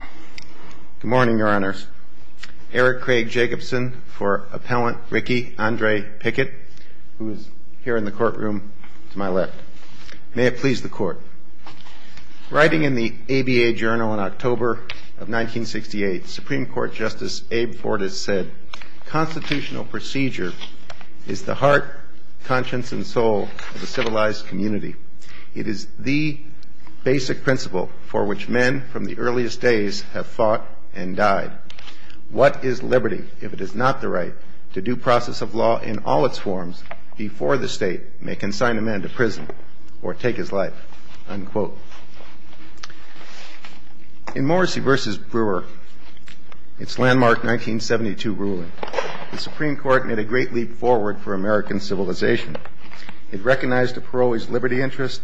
Good morning, Your Honors. Eric Craig Jacobson for Appellant Ricky Andre Pickett, who is here in the courtroom to my left. May it please the Court. Writing in the ABA Journal in October of 1968, Supreme Court Justice Abe Fortas said, Constitutional procedure is the heart, conscience, and soul of the civilized community. It is the basic principle for which men from the earliest days have fought and died. What is liberty if it is not the right to due process of law in all its forms before the State may consign a man to prison or take his life? Unquote. In Morrissey v. Brewer, its landmark 1972 ruling, the Supreme Court made a great leap forward for American civilization. It recognized a parolee's liberty interest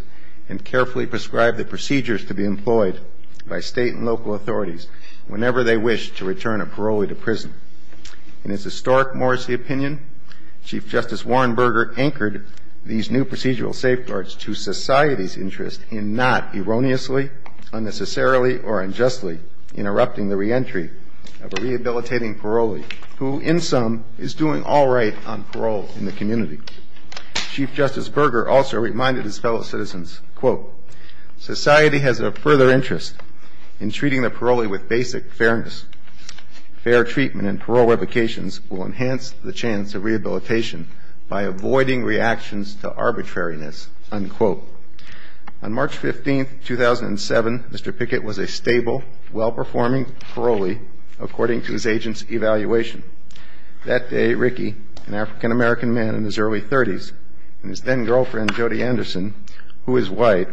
and carefully prescribed that procedures to be employed by State and local authorities whenever they wished to return a parolee to prison. In its historic Morrissey opinion, Chief Justice Warren Burger anchored these new procedural safeguards to society's interest in not erroneously, unnecessarily, or unjustly interrupting the reentry of a rehabilitating parolee who, in sum, is doing all right on parole in the community. Chief Justice Burger also reminded his fellow citizens, quote, society has a further interest in treating the parolee with basic fairness. Fair treatment and parole revocations will enhance the chance of rehabilitation by avoiding reactions to arbitrariness, unquote. On March 15, 2007, Mr. Pickett was a stable, well-performing parolee according to his agent's evaluation. That day, Ricky, an African-American man in his early 30s, and his then-girlfriend, Jody Anderson, who is white,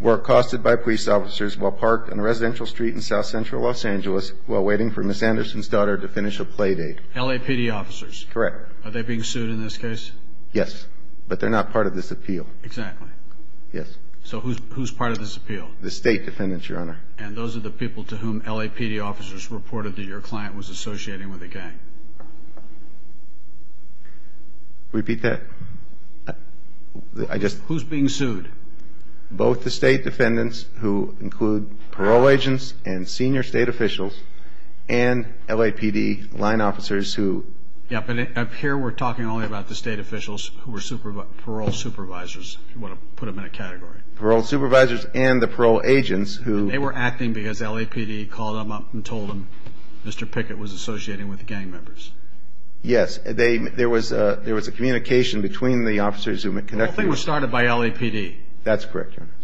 were accosted by police officers while parked on a residential street in south-central Los Angeles while waiting for Ms. Anderson's daughter to finish a play date. LAPD officers. Correct. Are they being sued in this case? Yes. But they're not part of this appeal. Exactly. Yes. So who's part of this appeal? The state defendants, Your Honor. And those are the people to whom LAPD officers reported that your client was associating with a gang? Repeat that? Who's being sued? Both the state defendants who include parole agents and senior state officials and LAPD line officers who... Yeah, but up here we're talking only about the state officials who were parole supervisors, if you want to put them in a category. Parole supervisors and the parole agents who... And they were acting because LAPD called them up and told them Mr. Pickett was associating with gang members. Yes. There was a communication between the officers who conducted... The whole thing was started by LAPD. That's correct, Your Honor.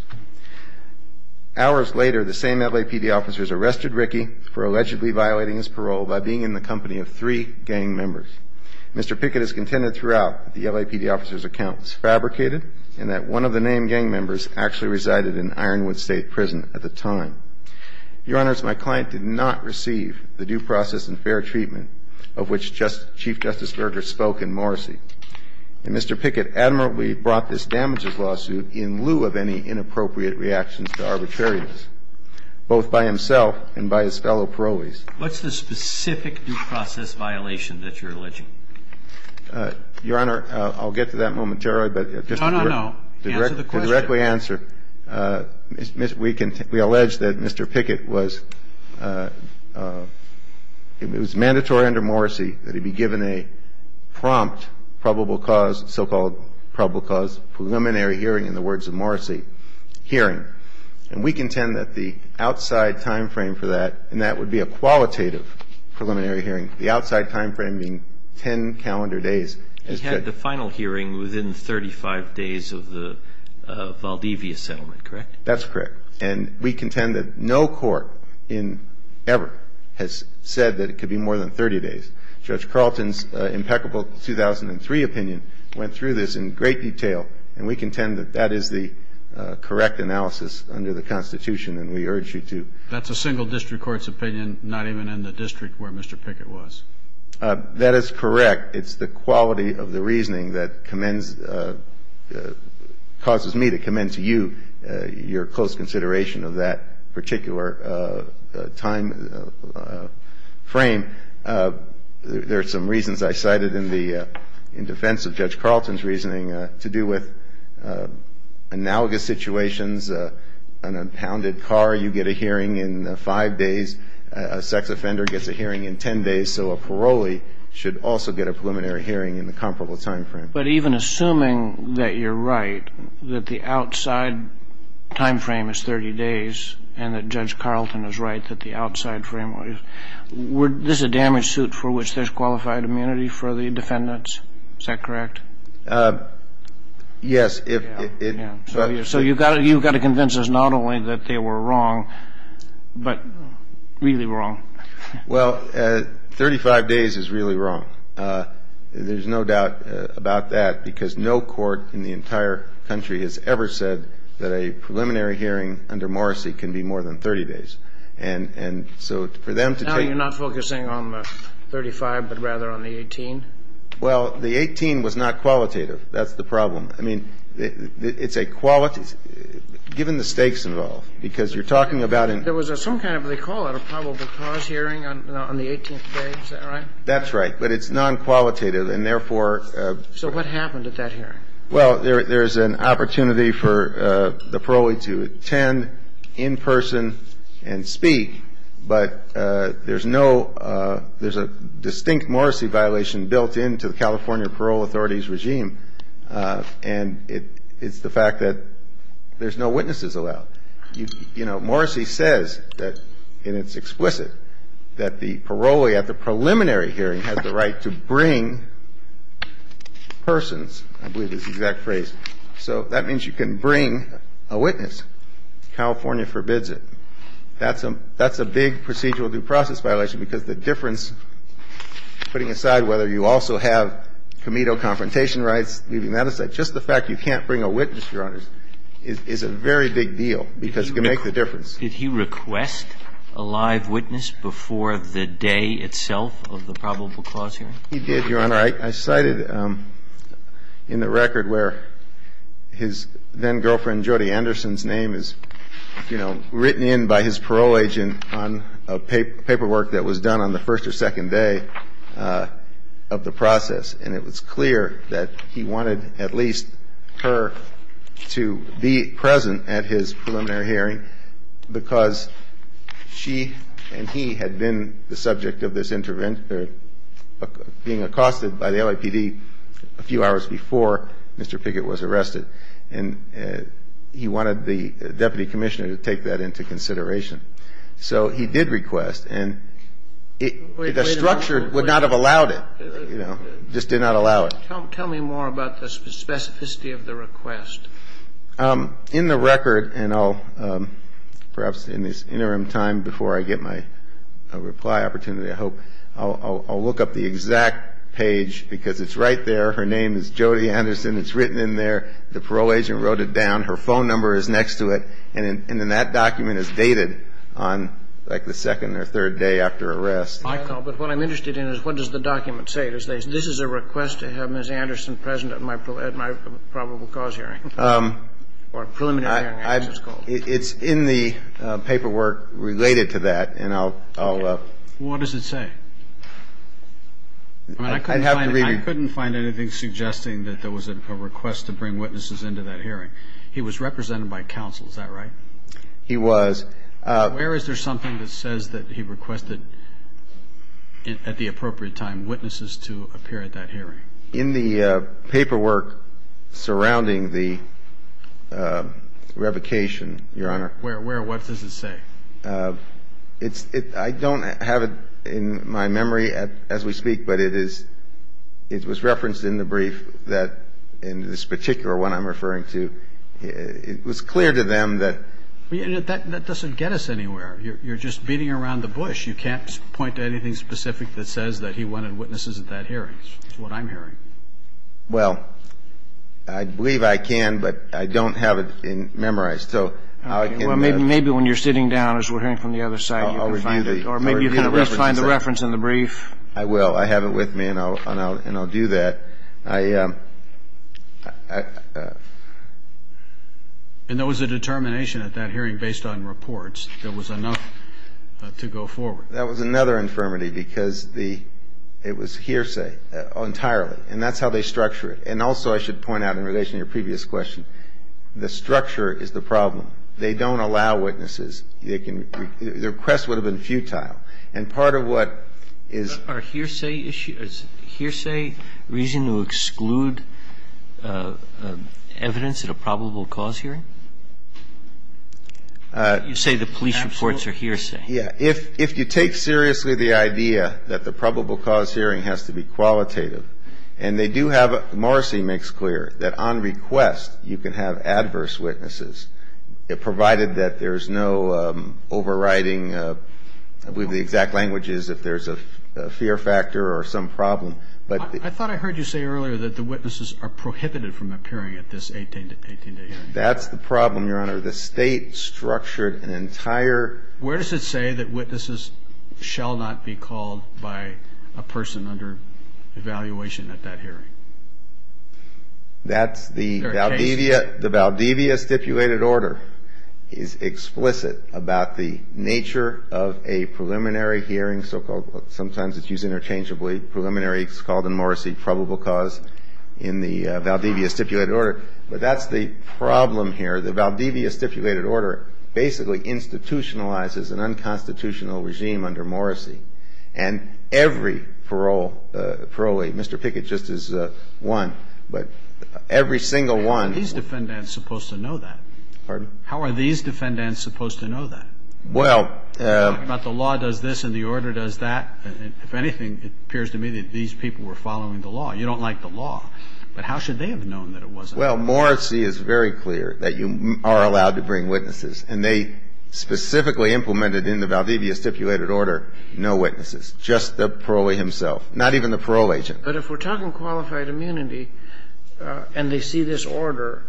Hours later, the same LAPD officers arrested Rickey for allegedly violating his parole by being in the company of three gang members. Mr. Pickett has contended throughout that the LAPD officer's account was fabricated and that one of the named gang members actually resided in Ironwood State Prison at the time. Your Honors, my client did not receive the due process and fair treatment of which Chief Justice Berger spoke in Morrissey. And Mr. Pickett admirably brought this damages lawsuit in lieu of any inappropriate reactions to arbitrariness, both by himself and by his fellow parolees. What's the specific due process violation that you're alleging? Your Honor, I'll get to that momentarily, but... No, no, no. Answer the question. I'll directly answer. We allege that Mr. Pickett was, it was mandatory under Morrissey that he be given a prompt probable cause, so-called probable cause preliminary hearing, in the words of Morrissey, hearing. And we contend that the outside timeframe for that, and that would be a qualitative preliminary hearing, the outside timeframe being 10 calendar days, is good. You said the final hearing within 35 days of the Valdivia settlement, correct? That's correct. And we contend that no court in ever has said that it could be more than 30 days. Judge Carlton's impeccable 2003 opinion went through this in great detail, and we contend that that is the correct analysis under the Constitution, and we urge you to- That's a single district court's opinion, not even in the district where Mr. Pickett was. That is correct. It's the quality of the reasoning that causes me to commend to you your close consideration of that particular timeframe. There are some reasons I cited in defense of Judge Carlton's reasoning to do with analogous situations. In a pounded car, you get a hearing in five days. A sex offender gets a hearing in 10 days, so a parolee should also get a preliminary hearing in the comparable timeframe. But even assuming that you're right, that the outside timeframe is 30 days, and that Judge Carlton is right that the outside framework is, is this a damage suit for which there's qualified immunity for the defendants? Is that correct? Yes. So you've got to convince us not only that they were wrong, but really wrong. Well, 35 days is really wrong. There's no doubt about that because no court in the entire country has ever said that a preliminary hearing under Morrissey can be more than 30 days. And so for them to take- Now you're not focusing on the 35, but rather on the 18? Well, the 18 was not qualitative. That's the problem. I mean, it's a, given the stakes involved, because you're talking about- There was some kind of, they call it a probable cause hearing on the 18th day, is that right? That's right. But it's non-qualitative, and therefore- So what happened at that hearing? Well, there's an opportunity for the parolee to attend in person and speak, but there's no, there's a distinct Morrissey violation built into the California Parole Authority's regime, and it's the fact that there's no witnesses allowed. You know, Morrissey says that, and it's explicit, that the parolee at the preliminary hearing has the right to bring persons. I believe it's the exact phrase. So that means you can bring a witness. California forbids it. That's a big procedural due process violation, because the difference, putting aside whether you also have committal confrontation rights, leaving that aside, just the fact you can't bring a witness, Your Honors, is a very big deal, because it can make the difference. Did he request a live witness before the day itself of the probable cause hearing? He did, Your Honor. All right. I cited in the record where his then-girlfriend Jody Anderson's name is, you know, written in by his parole agent on a paperwork that was done on the first or second day of the process, and it was clear that he wanted at least her to be present at his preliminary hearing, because she and he had been the subject of this intervention, being accosted by the LAPD a few hours before Mr. Pickett was arrested, and he wanted the deputy commissioner to take that into consideration. So he did request, and the structure would not have allowed it, you know, just did not allow it. Tell me more about the specificity of the request. In the record, and I'll, perhaps in this interim time before I get my reply opportunity, I hope, I'll look up the exact page, because it's right there. Her name is Jody Anderson. It's written in there. The parole agent wrote it down. Her phone number is next to it. And then that document is dated on, like, the second or third day after arrest. But what I'm interested in is what does the document say? This is a request to have Ms. Anderson present at my probable cause hearing, or preliminary hearing, as it's called. It's in the paperwork related to that, and I'll – What does it say? I mean, I couldn't find anything suggesting that there was a request to bring witnesses into that hearing. He was represented by counsel. Is that right? He was. Where is there something that says that he requested, at the appropriate time, witnesses to appear at that hearing? In the paperwork surrounding the revocation, Your Honor. Where? Where? What does it say? It's – I don't have it in my memory as we speak, but it is – it was referenced in the brief that – in this particular one I'm referring to. It was clear to them that – That doesn't get us anywhere. You're just beating around the bush. You can't point to anything specific that says that he wanted witnesses at that hearing. That's what I'm hearing. Well, I believe I can, but I don't have it memorized. So I can – Well, maybe when you're sitting down, as we're hearing from the other side, you can find it. I'll review the – Or maybe you can at least find the reference in the brief. I will. I have it with me, and I'll do that. And that was a determination at that hearing based on reports. There was enough to go forward. That was another infirmity because the – it was hearsay entirely. And that's how they structure it. And also I should point out in relation to your previous question, the structure is the problem. They don't allow witnesses. They can – their request would have been futile. And part of what is – Are hearsay issues – is hearsay reason to exclude evidence at a probable cause hearing? You say the police reports are hearsay. Yeah. If you take seriously the idea that the probable cause hearing has to be qualitative and they do have – Morrissey makes clear that on request you can have adverse witnesses, provided that there's no overriding – I believe the exact language is if there's a fear factor or some problem. But – I thought I heard you say earlier that the witnesses are prohibited from appearing at this 18-day hearing. That's the problem, Your Honor. The State structured an entire – Where does it say that witnesses shall not be called by a person under evaluation at that hearing? That's the Valdivia – There are cases – The Valdivia stipulated order is explicit about the nature of a preliminary hearing, so-called – sometimes it's used interchangeably. Preliminary is called in Morrissey probable cause in the Valdivia stipulated order. But that's the problem here. The Valdivia stipulated order basically institutionalizes an unconstitutional regime under Morrissey. And every parole – Mr. Pickett just is one. But every single one – How are these defendants supposed to know that? Pardon? How are these defendants supposed to know that? Well – You talk about the law does this and the order does that. If anything, it appears to me that these people were following the law. You don't like the law. But how should they have known that it wasn't – Well, Morrissey is very clear that you are allowed to bring witnesses. And they specifically implemented in the Valdivia stipulated order no witnesses, just the parolee himself, not even the parole agent. But if we're talking qualified immunity and they see this order,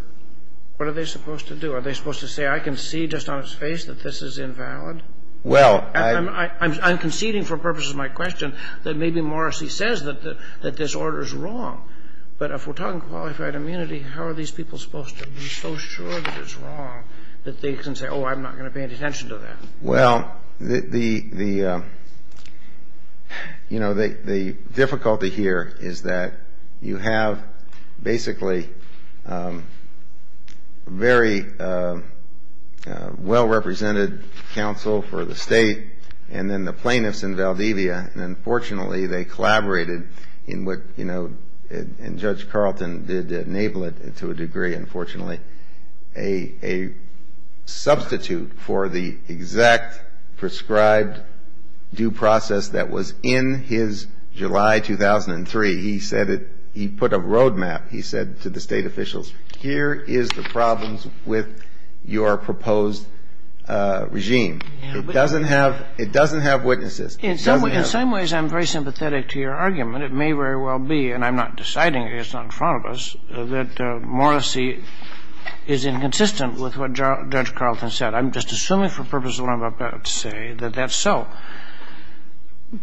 what are they supposed to do? Are they supposed to say, I can see just on his face that this is invalid? Well – I'm conceding for purposes of my question that maybe Morrissey says that this order is wrong. But if we're talking qualified immunity, how are these people supposed to be so sure that it's wrong that they can say, oh, I'm not going to pay any attention to that? Well, the difficulty here is that you have basically very well-represented counsel for the state and then the plaintiffs in Valdivia. And unfortunately, they collaborated in what – and Judge Carlton did enable it to a degree, unfortunately, a substitute for the exact prescribed due process that was in his July 2003. He said it – he put a roadmap. He said to the state officials, here is the problems with your proposed regime. It doesn't have – it doesn't have witnesses. It doesn't have – In some ways, I'm very sympathetic to your argument. It may very well be, and I'm not deciding it, it's not in front of us, that Morrissey is inconsistent with what Judge Carlton said. I'm just assuming for purposes of what I'm about to say that that's so.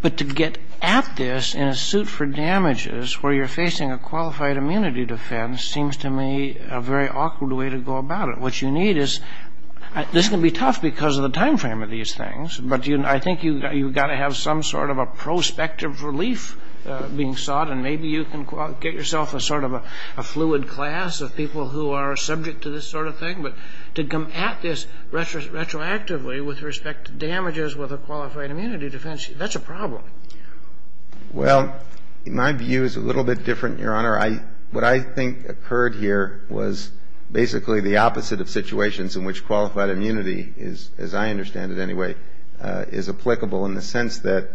But to get at this in a suit for damages where you're facing a qualified immunity defense seems to me a very awkward way to go about it. What you need is – this can be tough because of the timeframe of these things, but I think you've got to have some sort of a prospective relief being sought, and maybe you can get yourself a sort of a fluid class of people who are subject to this sort of thing. But to come at this retroactively with respect to damages with a qualified immunity defense, that's a problem. Well, my view is a little bit different, Your Honor. I – what I think occurred here was basically the opposite of situations in which in the sense that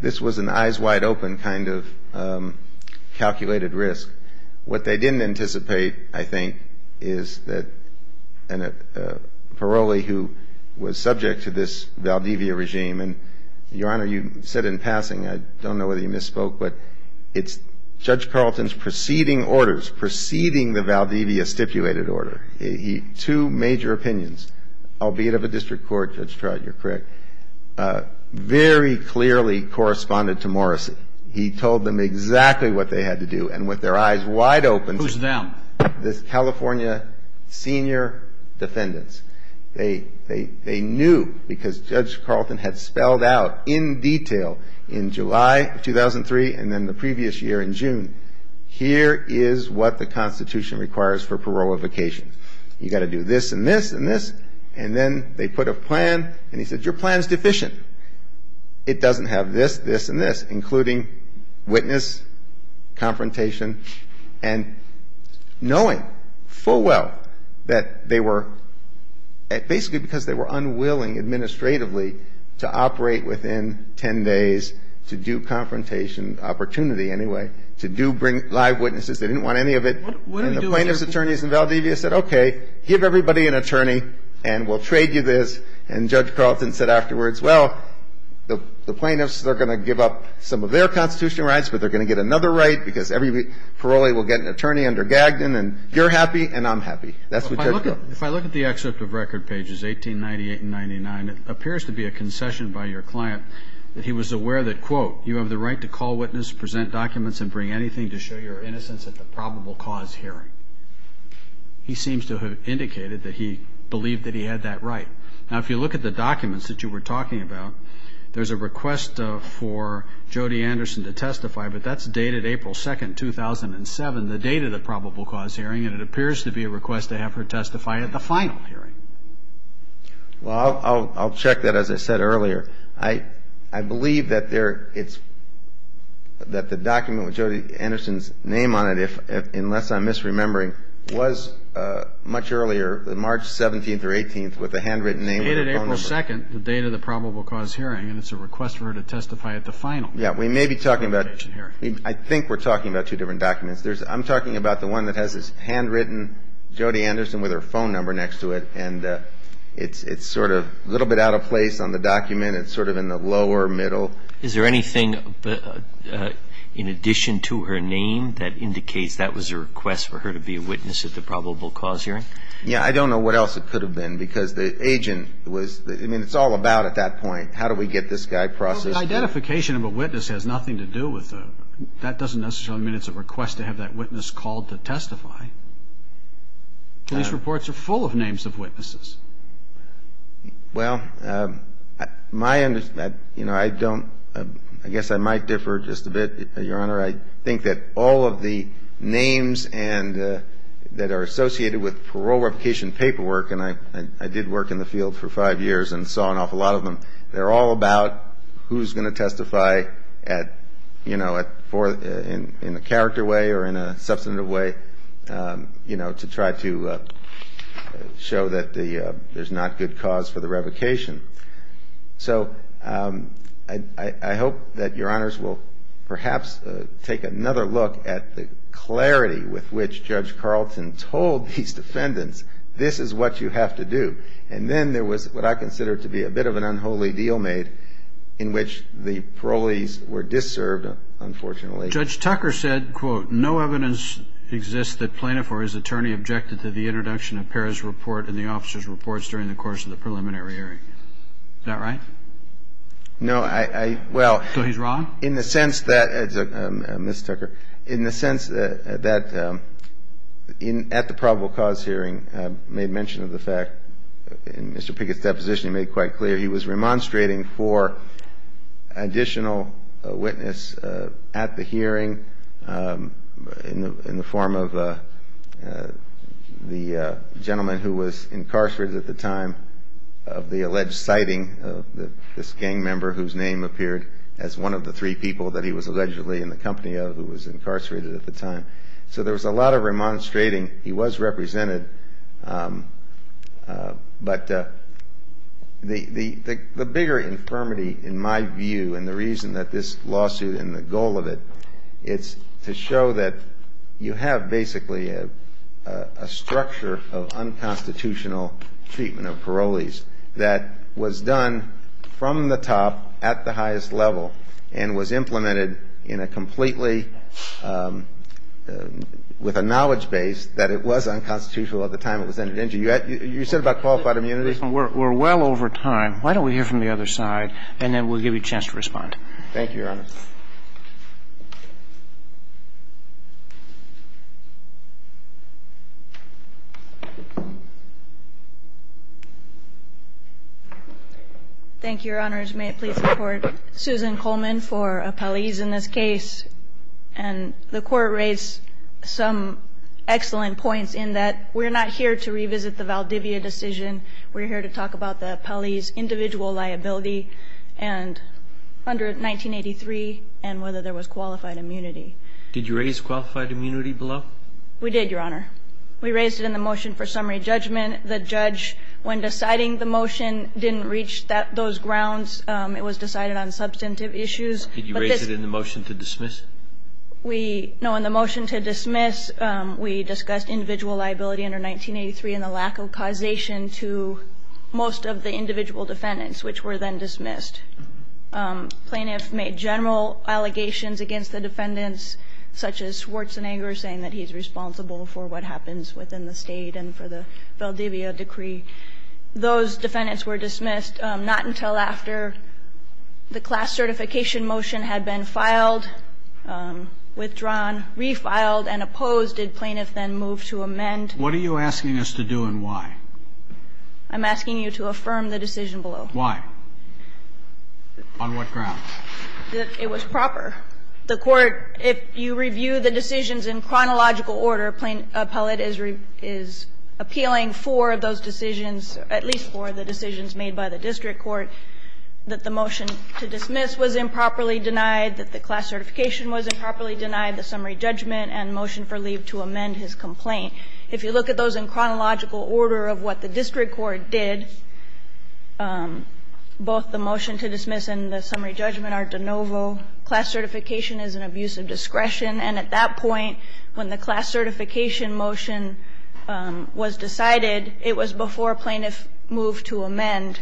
this was an eyes-wide-open kind of calculated risk. What they didn't anticipate, I think, is that a parolee who was subject to this Valdivia regime – and, Your Honor, you said in passing, I don't know whether you misspoke, but it's Judge Carlton's preceding orders, preceding the Valdivia stipulated order. He – two major opinions, albeit of a district court, Judge Trout, you're correct, very clearly corresponded to Morrissey. He told them exactly what they had to do, and with their eyes wide open. Who's them? The California senior defendants. They knew because Judge Carlton had spelled out in detail in July of 2003 and then the previous year in June, here is what the Constitution requires for parole qualifications. You've got to do this and this and this, and then they put a plan, and he said your plan is deficient. It doesn't have this, this, and this, including witness, confrontation, and knowing full well that they were – basically because they were unwilling administratively to operate within 10 days to do confrontation, opportunity anyway, to do bring live witnesses. They didn't want any of it. And the plaintiff's attorneys in Valdivia said, okay, give everybody an attorney and we'll trade you this. And Judge Carlton said afterwards, well, the plaintiffs, they're going to give up some of their constitutional rights, but they're going to get another right because every parolee will get an attorney under Gagdon and you're happy and I'm happy. That's what Judge Carlton said. If I look at the excerpt of record pages 1898 and 99, it appears to be a concession by your client that he was aware that, quote, you have the right to call witness, present documents, and bring anything to show your innocence at the probable cause hearing. He seems to have indicated that he believed that he had that right. Now, if you look at the documents that you were talking about, there's a request for Jody Anderson to testify, but that's dated April 2, 2007, the date of the probable cause hearing, and it appears to be a request to have her testify at the final hearing. Well, I'll check that, as I said earlier. I believe that the document with Jody Anderson's name on it, unless I'm misremembering, was much earlier, March 17th or 18th, with the handwritten name of her phone number. It's dated April 2nd, the date of the probable cause hearing, and it's a request for her to testify at the final hearing. I think we're talking about two different documents. I'm talking about the one that has this handwritten Jody Anderson with her phone number next to it, and it's sort of a little bit out of place on the document and it's sort of in the lower middle. Is there anything in addition to her name that indicates that was a request for her to be a witness at the probable cause hearing? Yeah, I don't know what else it could have been because the agent was, I mean, it's all about at that point, how do we get this guy processed? Well, the identification of a witness has nothing to do with the, that doesn't necessarily mean it's a request to have that witness called to testify. Police reports are full of names of witnesses. Well, my understanding, you know, I don't, I guess I might differ just a bit, Your Honor. I think that all of the names that are associated with parole replication paperwork, and I did work in the field for five years and saw an awful lot of them, they're all about who's going to testify at, you know, in a character way or in a substantive way, you know, to try to show that there's not good cause for the revocation. So I hope that Your Honors will perhaps take another look at the clarity with which Judge Carlton told these defendants, this is what you have to do. And then there was what I consider to be a bit of an unholy deal made in which the parolees were disserved, unfortunately. Judge Tucker said, quote, no evidence exists that plaintiff or his attorney objected to the introduction of Pera's report and the officer's reports during the course of the preliminary hearing. Is that right? No, I, well. So he's wrong? In the sense that, Ms. Tucker, in the sense that at the probable cause hearing I made mention of the fact, in Mr. Pickett's deposition he made it quite clear, he was remonstrating for additional witness at the hearing in the form of the gentleman who was incarcerated at the time of the alleged sighting of this gang member whose name appeared as one of the three people that he was allegedly in the company of who was incarcerated at the time. So there was a lot of remonstrating. He was represented, but the bigger infirmity in my view and the reason that this lawsuit and the goal of it is to show that you have basically a structure of unconstitutional treatment of parolees that was done from the top at the highest level and was implemented in a completely, with a knowledge base that it was unconstitutional at the time it was entered into. You said about qualified immunities? We're well over time. Why don't we hear from the other side and then we'll give you a chance to respond. Thank you, Your Honor. Thank you, Your Honors. May it please the Court, Susan Coleman for appellees in this case. And the Court raised some excellent points in that we're not here to revisit the Valdivia decision. We're here to talk about the appellee's individual liability and under 1983 and whether there was qualified immunity. Did you raise qualified immunity below? We did, Your Honor. We raised it in the motion for summary judgment. The judge, when deciding the motion, didn't reach those grounds. It was decided on substantive issues. Did you raise it in the motion to dismiss? No, in the motion to dismiss, we discussed individual liability under 1983 and the lack of causation to most of the individual defendants, which were then dismissed. Plaintiff made general allegations against the defendants, such as Schwarzenegger saying that he's responsible for what happens within the State and for the Valdivia decree. Those defendants were dismissed, not until after the class certification motion had been filed, withdrawn, refiled, and opposed did plaintiff then move to amend. What are you asking us to do and why? I'm asking you to affirm the decision below. Why? On what grounds? It was proper. The Court, if you review the decisions in chronological order, Plaintiff appellate is appealing for those decisions, at least for the decisions made by the district court, that the motion to dismiss was improperly denied, that the class certification was improperly denied, the summary judgment, and motion for leave to amend his complaint. If you look at those in chronological order of what the district court did, both the motion to dismiss and the summary judgment are de novo. Class certification is an abuse of discretion. And at that point, when the class certification motion was decided, it was before plaintiff moved to amend.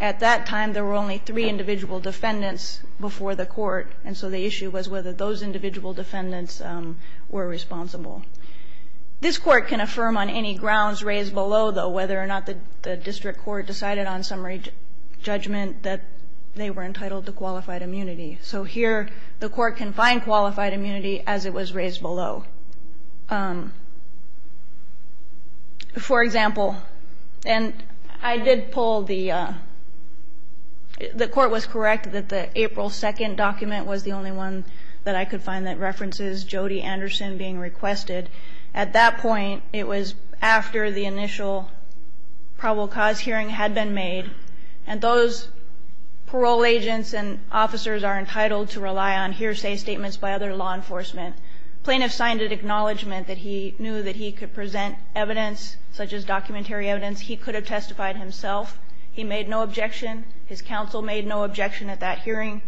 At that time, there were only three individual defendants before the Court, and so the issue was whether those individual defendants were responsible. This Court can affirm on any grounds raised below, though, whether or not the district court decided on summary judgment that they were entitled to qualified immunity. So here, the Court can find qualified immunity as it was raised below. For example, and I did pull the – the Court was correct that the April 2nd document was the only one that I could find that references Jody Anderson being requested. At that point, it was after the initial probable cause hearing had been made. And those parole agents and officers are entitled to rely on hearsay statements by other law enforcement. Plaintiff signed an acknowledgment that he knew that he could present evidence such as documentary evidence. He could have testified himself. He made no objection. His counsel made no objection at that hearing.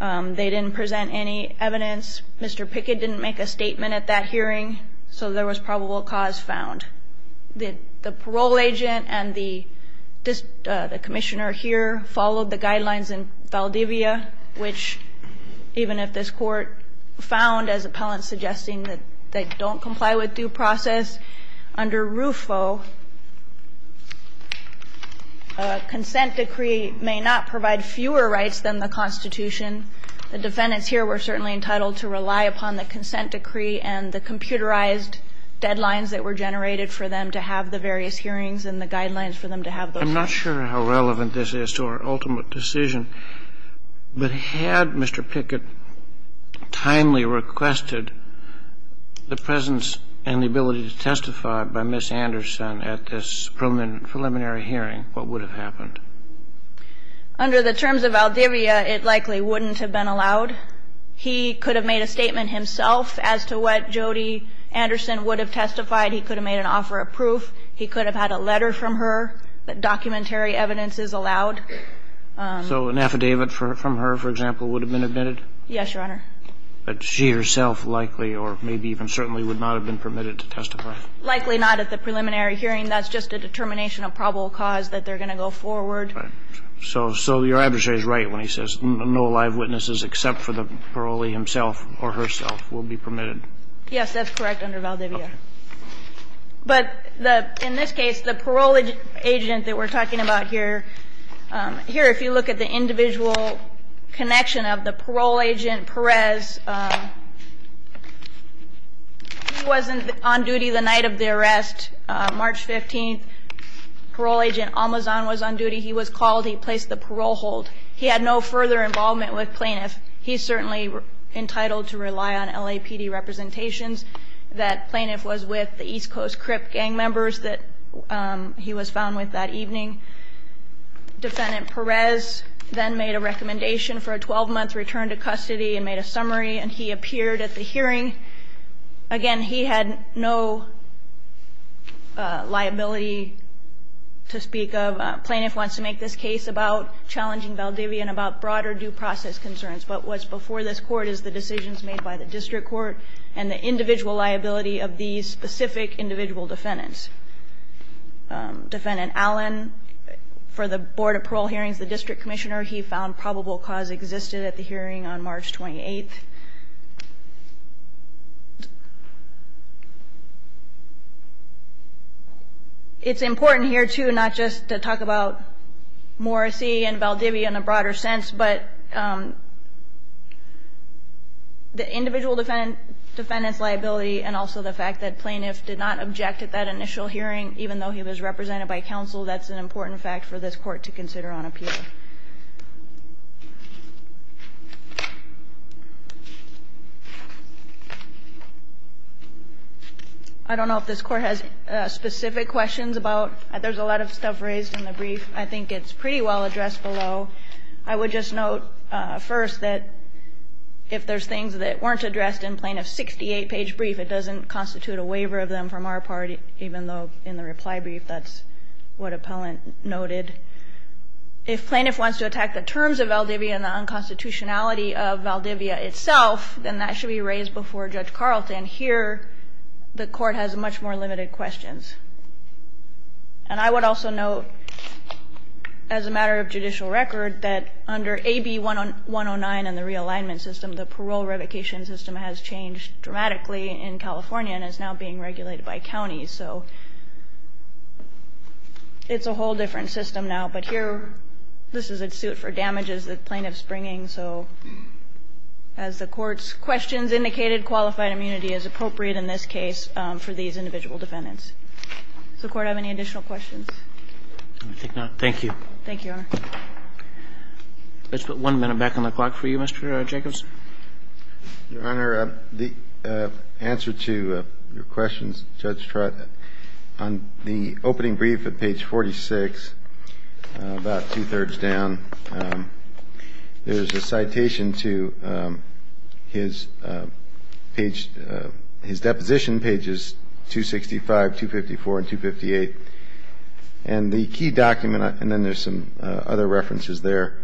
They didn't present any evidence. Mr. Pickett didn't make a statement at that hearing, so there was probable cause found. The parole agent and the commissioner here followed the guidelines in Valdivia, which, even if this Court found as appellants suggesting that they don't comply with due process, under RUFO, a consent decree may not provide fewer rights than the Constitution. The defendants here were certainly entitled to rely upon the consent decree and the computerized deadlines that were generated for them to have the various hearings and the guidelines for them to have those hearings. I'm not sure how relevant this is to our ultimate decision, but had Mr. Pickett timely requested the presence and the ability to testify by Ms. Anderson at this preliminary hearing, what would have happened? Under the terms of Valdivia, it likely wouldn't have been allowed. He could have made a statement himself as to what Jody Anderson would have testified. He could have made an offer of proof. He could have had a letter from her that documentary evidence is allowed. So an affidavit from her, for example, would have been admitted? Yes, Your Honor. But she herself likely or maybe even certainly would not have been permitted to testify? Likely not at the preliminary hearing. That's just a determination of probable cause that they're going to go forward. Right. So your adversary is right when he says no live witnesses except for the parolee himself or herself will be permitted? Yes, that's correct under Valdivia. Okay. But in this case, the parole agent that we're talking about here, here if you look at the individual connection of the parole agent, Perez, he wasn't on duty the night of the arrest, March 15th. Parole agent Almazan was on duty. He was called. He placed the parole hold. He had no further involvement with plaintiffs. He's certainly entitled to rely on LAPD representations. That plaintiff was with the East Coast Crip gang members that he was found with that evening. Defendant Perez then made a recommendation for a 12-month return to custody and made a summary, and he appeared at the hearing. Again, he had no liability to speak of. Plaintiff wants to make this case about challenging Valdivia and about broader due process concerns. But what's before this Court is the decisions made by the district court and the individual liability of these specific individual defendants. Defendant Allen, for the Board of Parole hearings, the district commissioner, he found probable cause existed at the hearing on March 28th. It's important here, too, not just to talk about Morrissey and Valdivia in a broader sense, but the individual defendant's liability and also the fact that plaintiff did not object at that initial hearing, even though he was represented by counsel. That's an important fact for this Court to consider on appeal. I don't know if this Court has specific questions about. There's a lot of stuff raised in the brief. I think it's pretty well addressed below. I would just note first that if there's things that weren't addressed in plaintiff's 68-page brief, it doesn't constitute a waiver of them from our party, even though in the reply brief that's what appellant noted. If plaintiff wants to attack the terms of Valdivia and the unconstitutionality of Valdivia itself, then that should be raised before Judge Carlton. Here, the Court has much more limited questions. And I would also note, as a matter of judicial record, that under AB 109 and the realignment system, the parole revocation system has changed dramatically in California and is now being regulated by counties. So it's a whole different system now. But here, this is a suit for damages that plaintiff's bringing. So as the Court's questions indicated, qualified immunity is appropriate in this case for these individual defendants. Does the Court have any additional questions? Roberts. I think not. Thank you. Thank you, Your Honor. Let's put one minute back on the clock for you, Mr. Jacobs. Your Honor, the answer to your questions, Judge Trott, on the opening brief at page 46, about two-thirds down, there's a citation to his page, his deposition pages, 265, 254, and 258. And the key document, and then there's some other references there,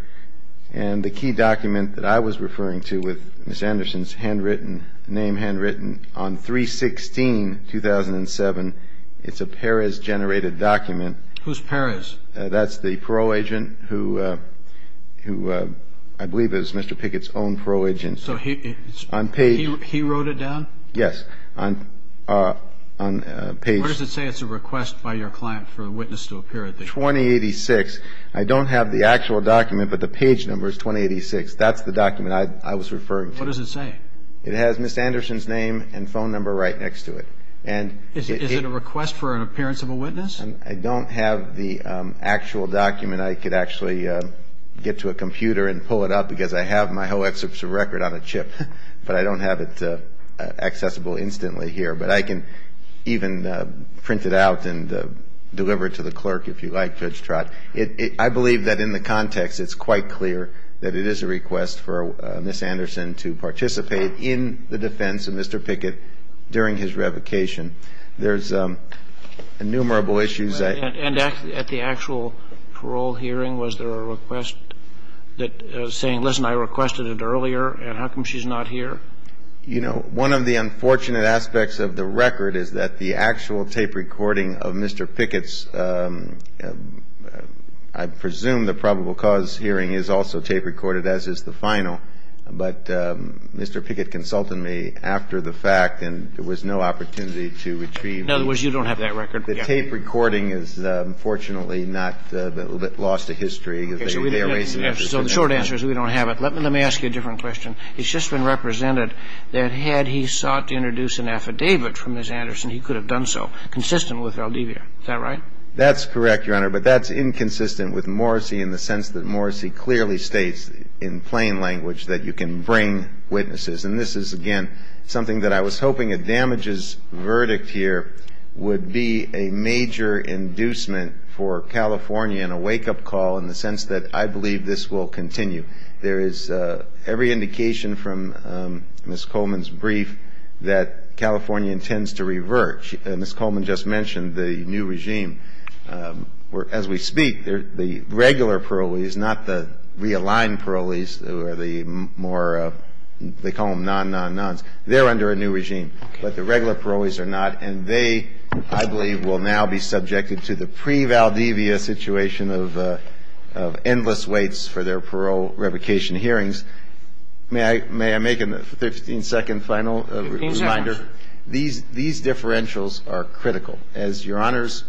and the key document that I was referring to with Ms. Anderson's handwritten name handwritten on 316, 2007, it's a Perez-generated document. Who's Perez? That's the parole agent who I believe is Mr. Pickett's own parole agent. So he wrote it down? Yes. What does it say? It's a request by your client for a witness to appear at the hearing. 2086. I don't have the actual document, but the page number is 2086. That's the document I was referring to. What does it say? It has Ms. Anderson's name and phone number right next to it. Is it a request for an appearance of a witness? I don't have the actual document. I could actually get to a computer and pull it up, because I have my whole excerpts of record on a chip, but I don't have it accessible instantly here. But I can even print it out and deliver it to the clerk if you like, Judge Trott. I believe that in the context it's quite clear that it is a request for Ms. Anderson to participate in the defense of Mr. Pickett during his revocation. There's innumerable issues. And at the actual parole hearing, was there a request that was saying, listen, I requested it earlier, and how come she's not here? You know, one of the unfortunate aspects of the record is that the actual tape recording of Mr. Pickett's, I presume the probable cause hearing is also tape recorded, as is the final. But Mr. Pickett consulted me after the fact, and there was no opportunity to retrieve. In other words, you don't have that record. The tape recording is unfortunately not lost to history. So the short answer is we don't have it. Let me ask you a different question. It's just been represented that had he sought to introduce an affidavit from Ms. Anderson, he could have done so, consistent with Valdivia. Is that right? That's correct, Your Honor. But that's inconsistent with Morrissey in the sense that Morrissey clearly states in plain language that you can bring witnesses. And this is, again, something that I was hoping a damages verdict here would be a major inducement for California in a wake-up call in the sense that I believe this will continue. There is every indication from Ms. Coleman's brief that California intends to revert. Ms. Coleman just mentioned the new regime where, as we speak, the regular parolees, not the realigned parolees who are the more, they call them non-non-nons, they're under a new regime. But the regular parolees are not. And they, I believe, will now be subjected to the pre-Valdivia situation of endless waits for their parole revocation hearings. May I make a 15-second final reminder? 15 seconds. These differentials are critical. As Your Honors,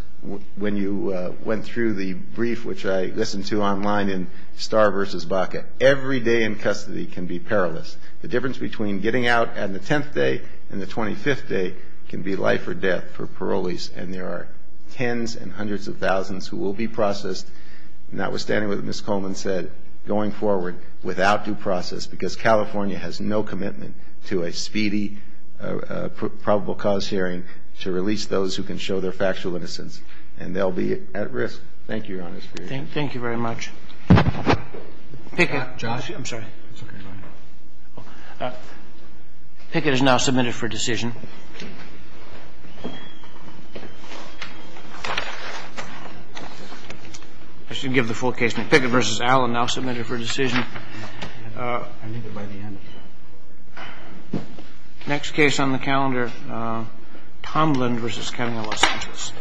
when you went through the brief which I listened to online in Starr v. Baca, every day in custody can be perilous. The difference between getting out on the 10th day and the 25th day can be life or death for parolees. And there are tens and hundreds of thousands who will be processed. Notwithstanding what Ms. Coleman said, going forward without due process, because California has no commitment to a speedy probable cause hearing to release those who can show their factual innocence. And they'll be at risk. Thank you, Your Honors. Thank you very much. Pickett. Josh? I'm sorry. It's okay. Pickett is now submitted for decision. I should give the full case. Pickett v. Allen, now submitted for decision. I need it by the end. Next case on the calendar, Tomlin v. Kettinger, Los Angeles.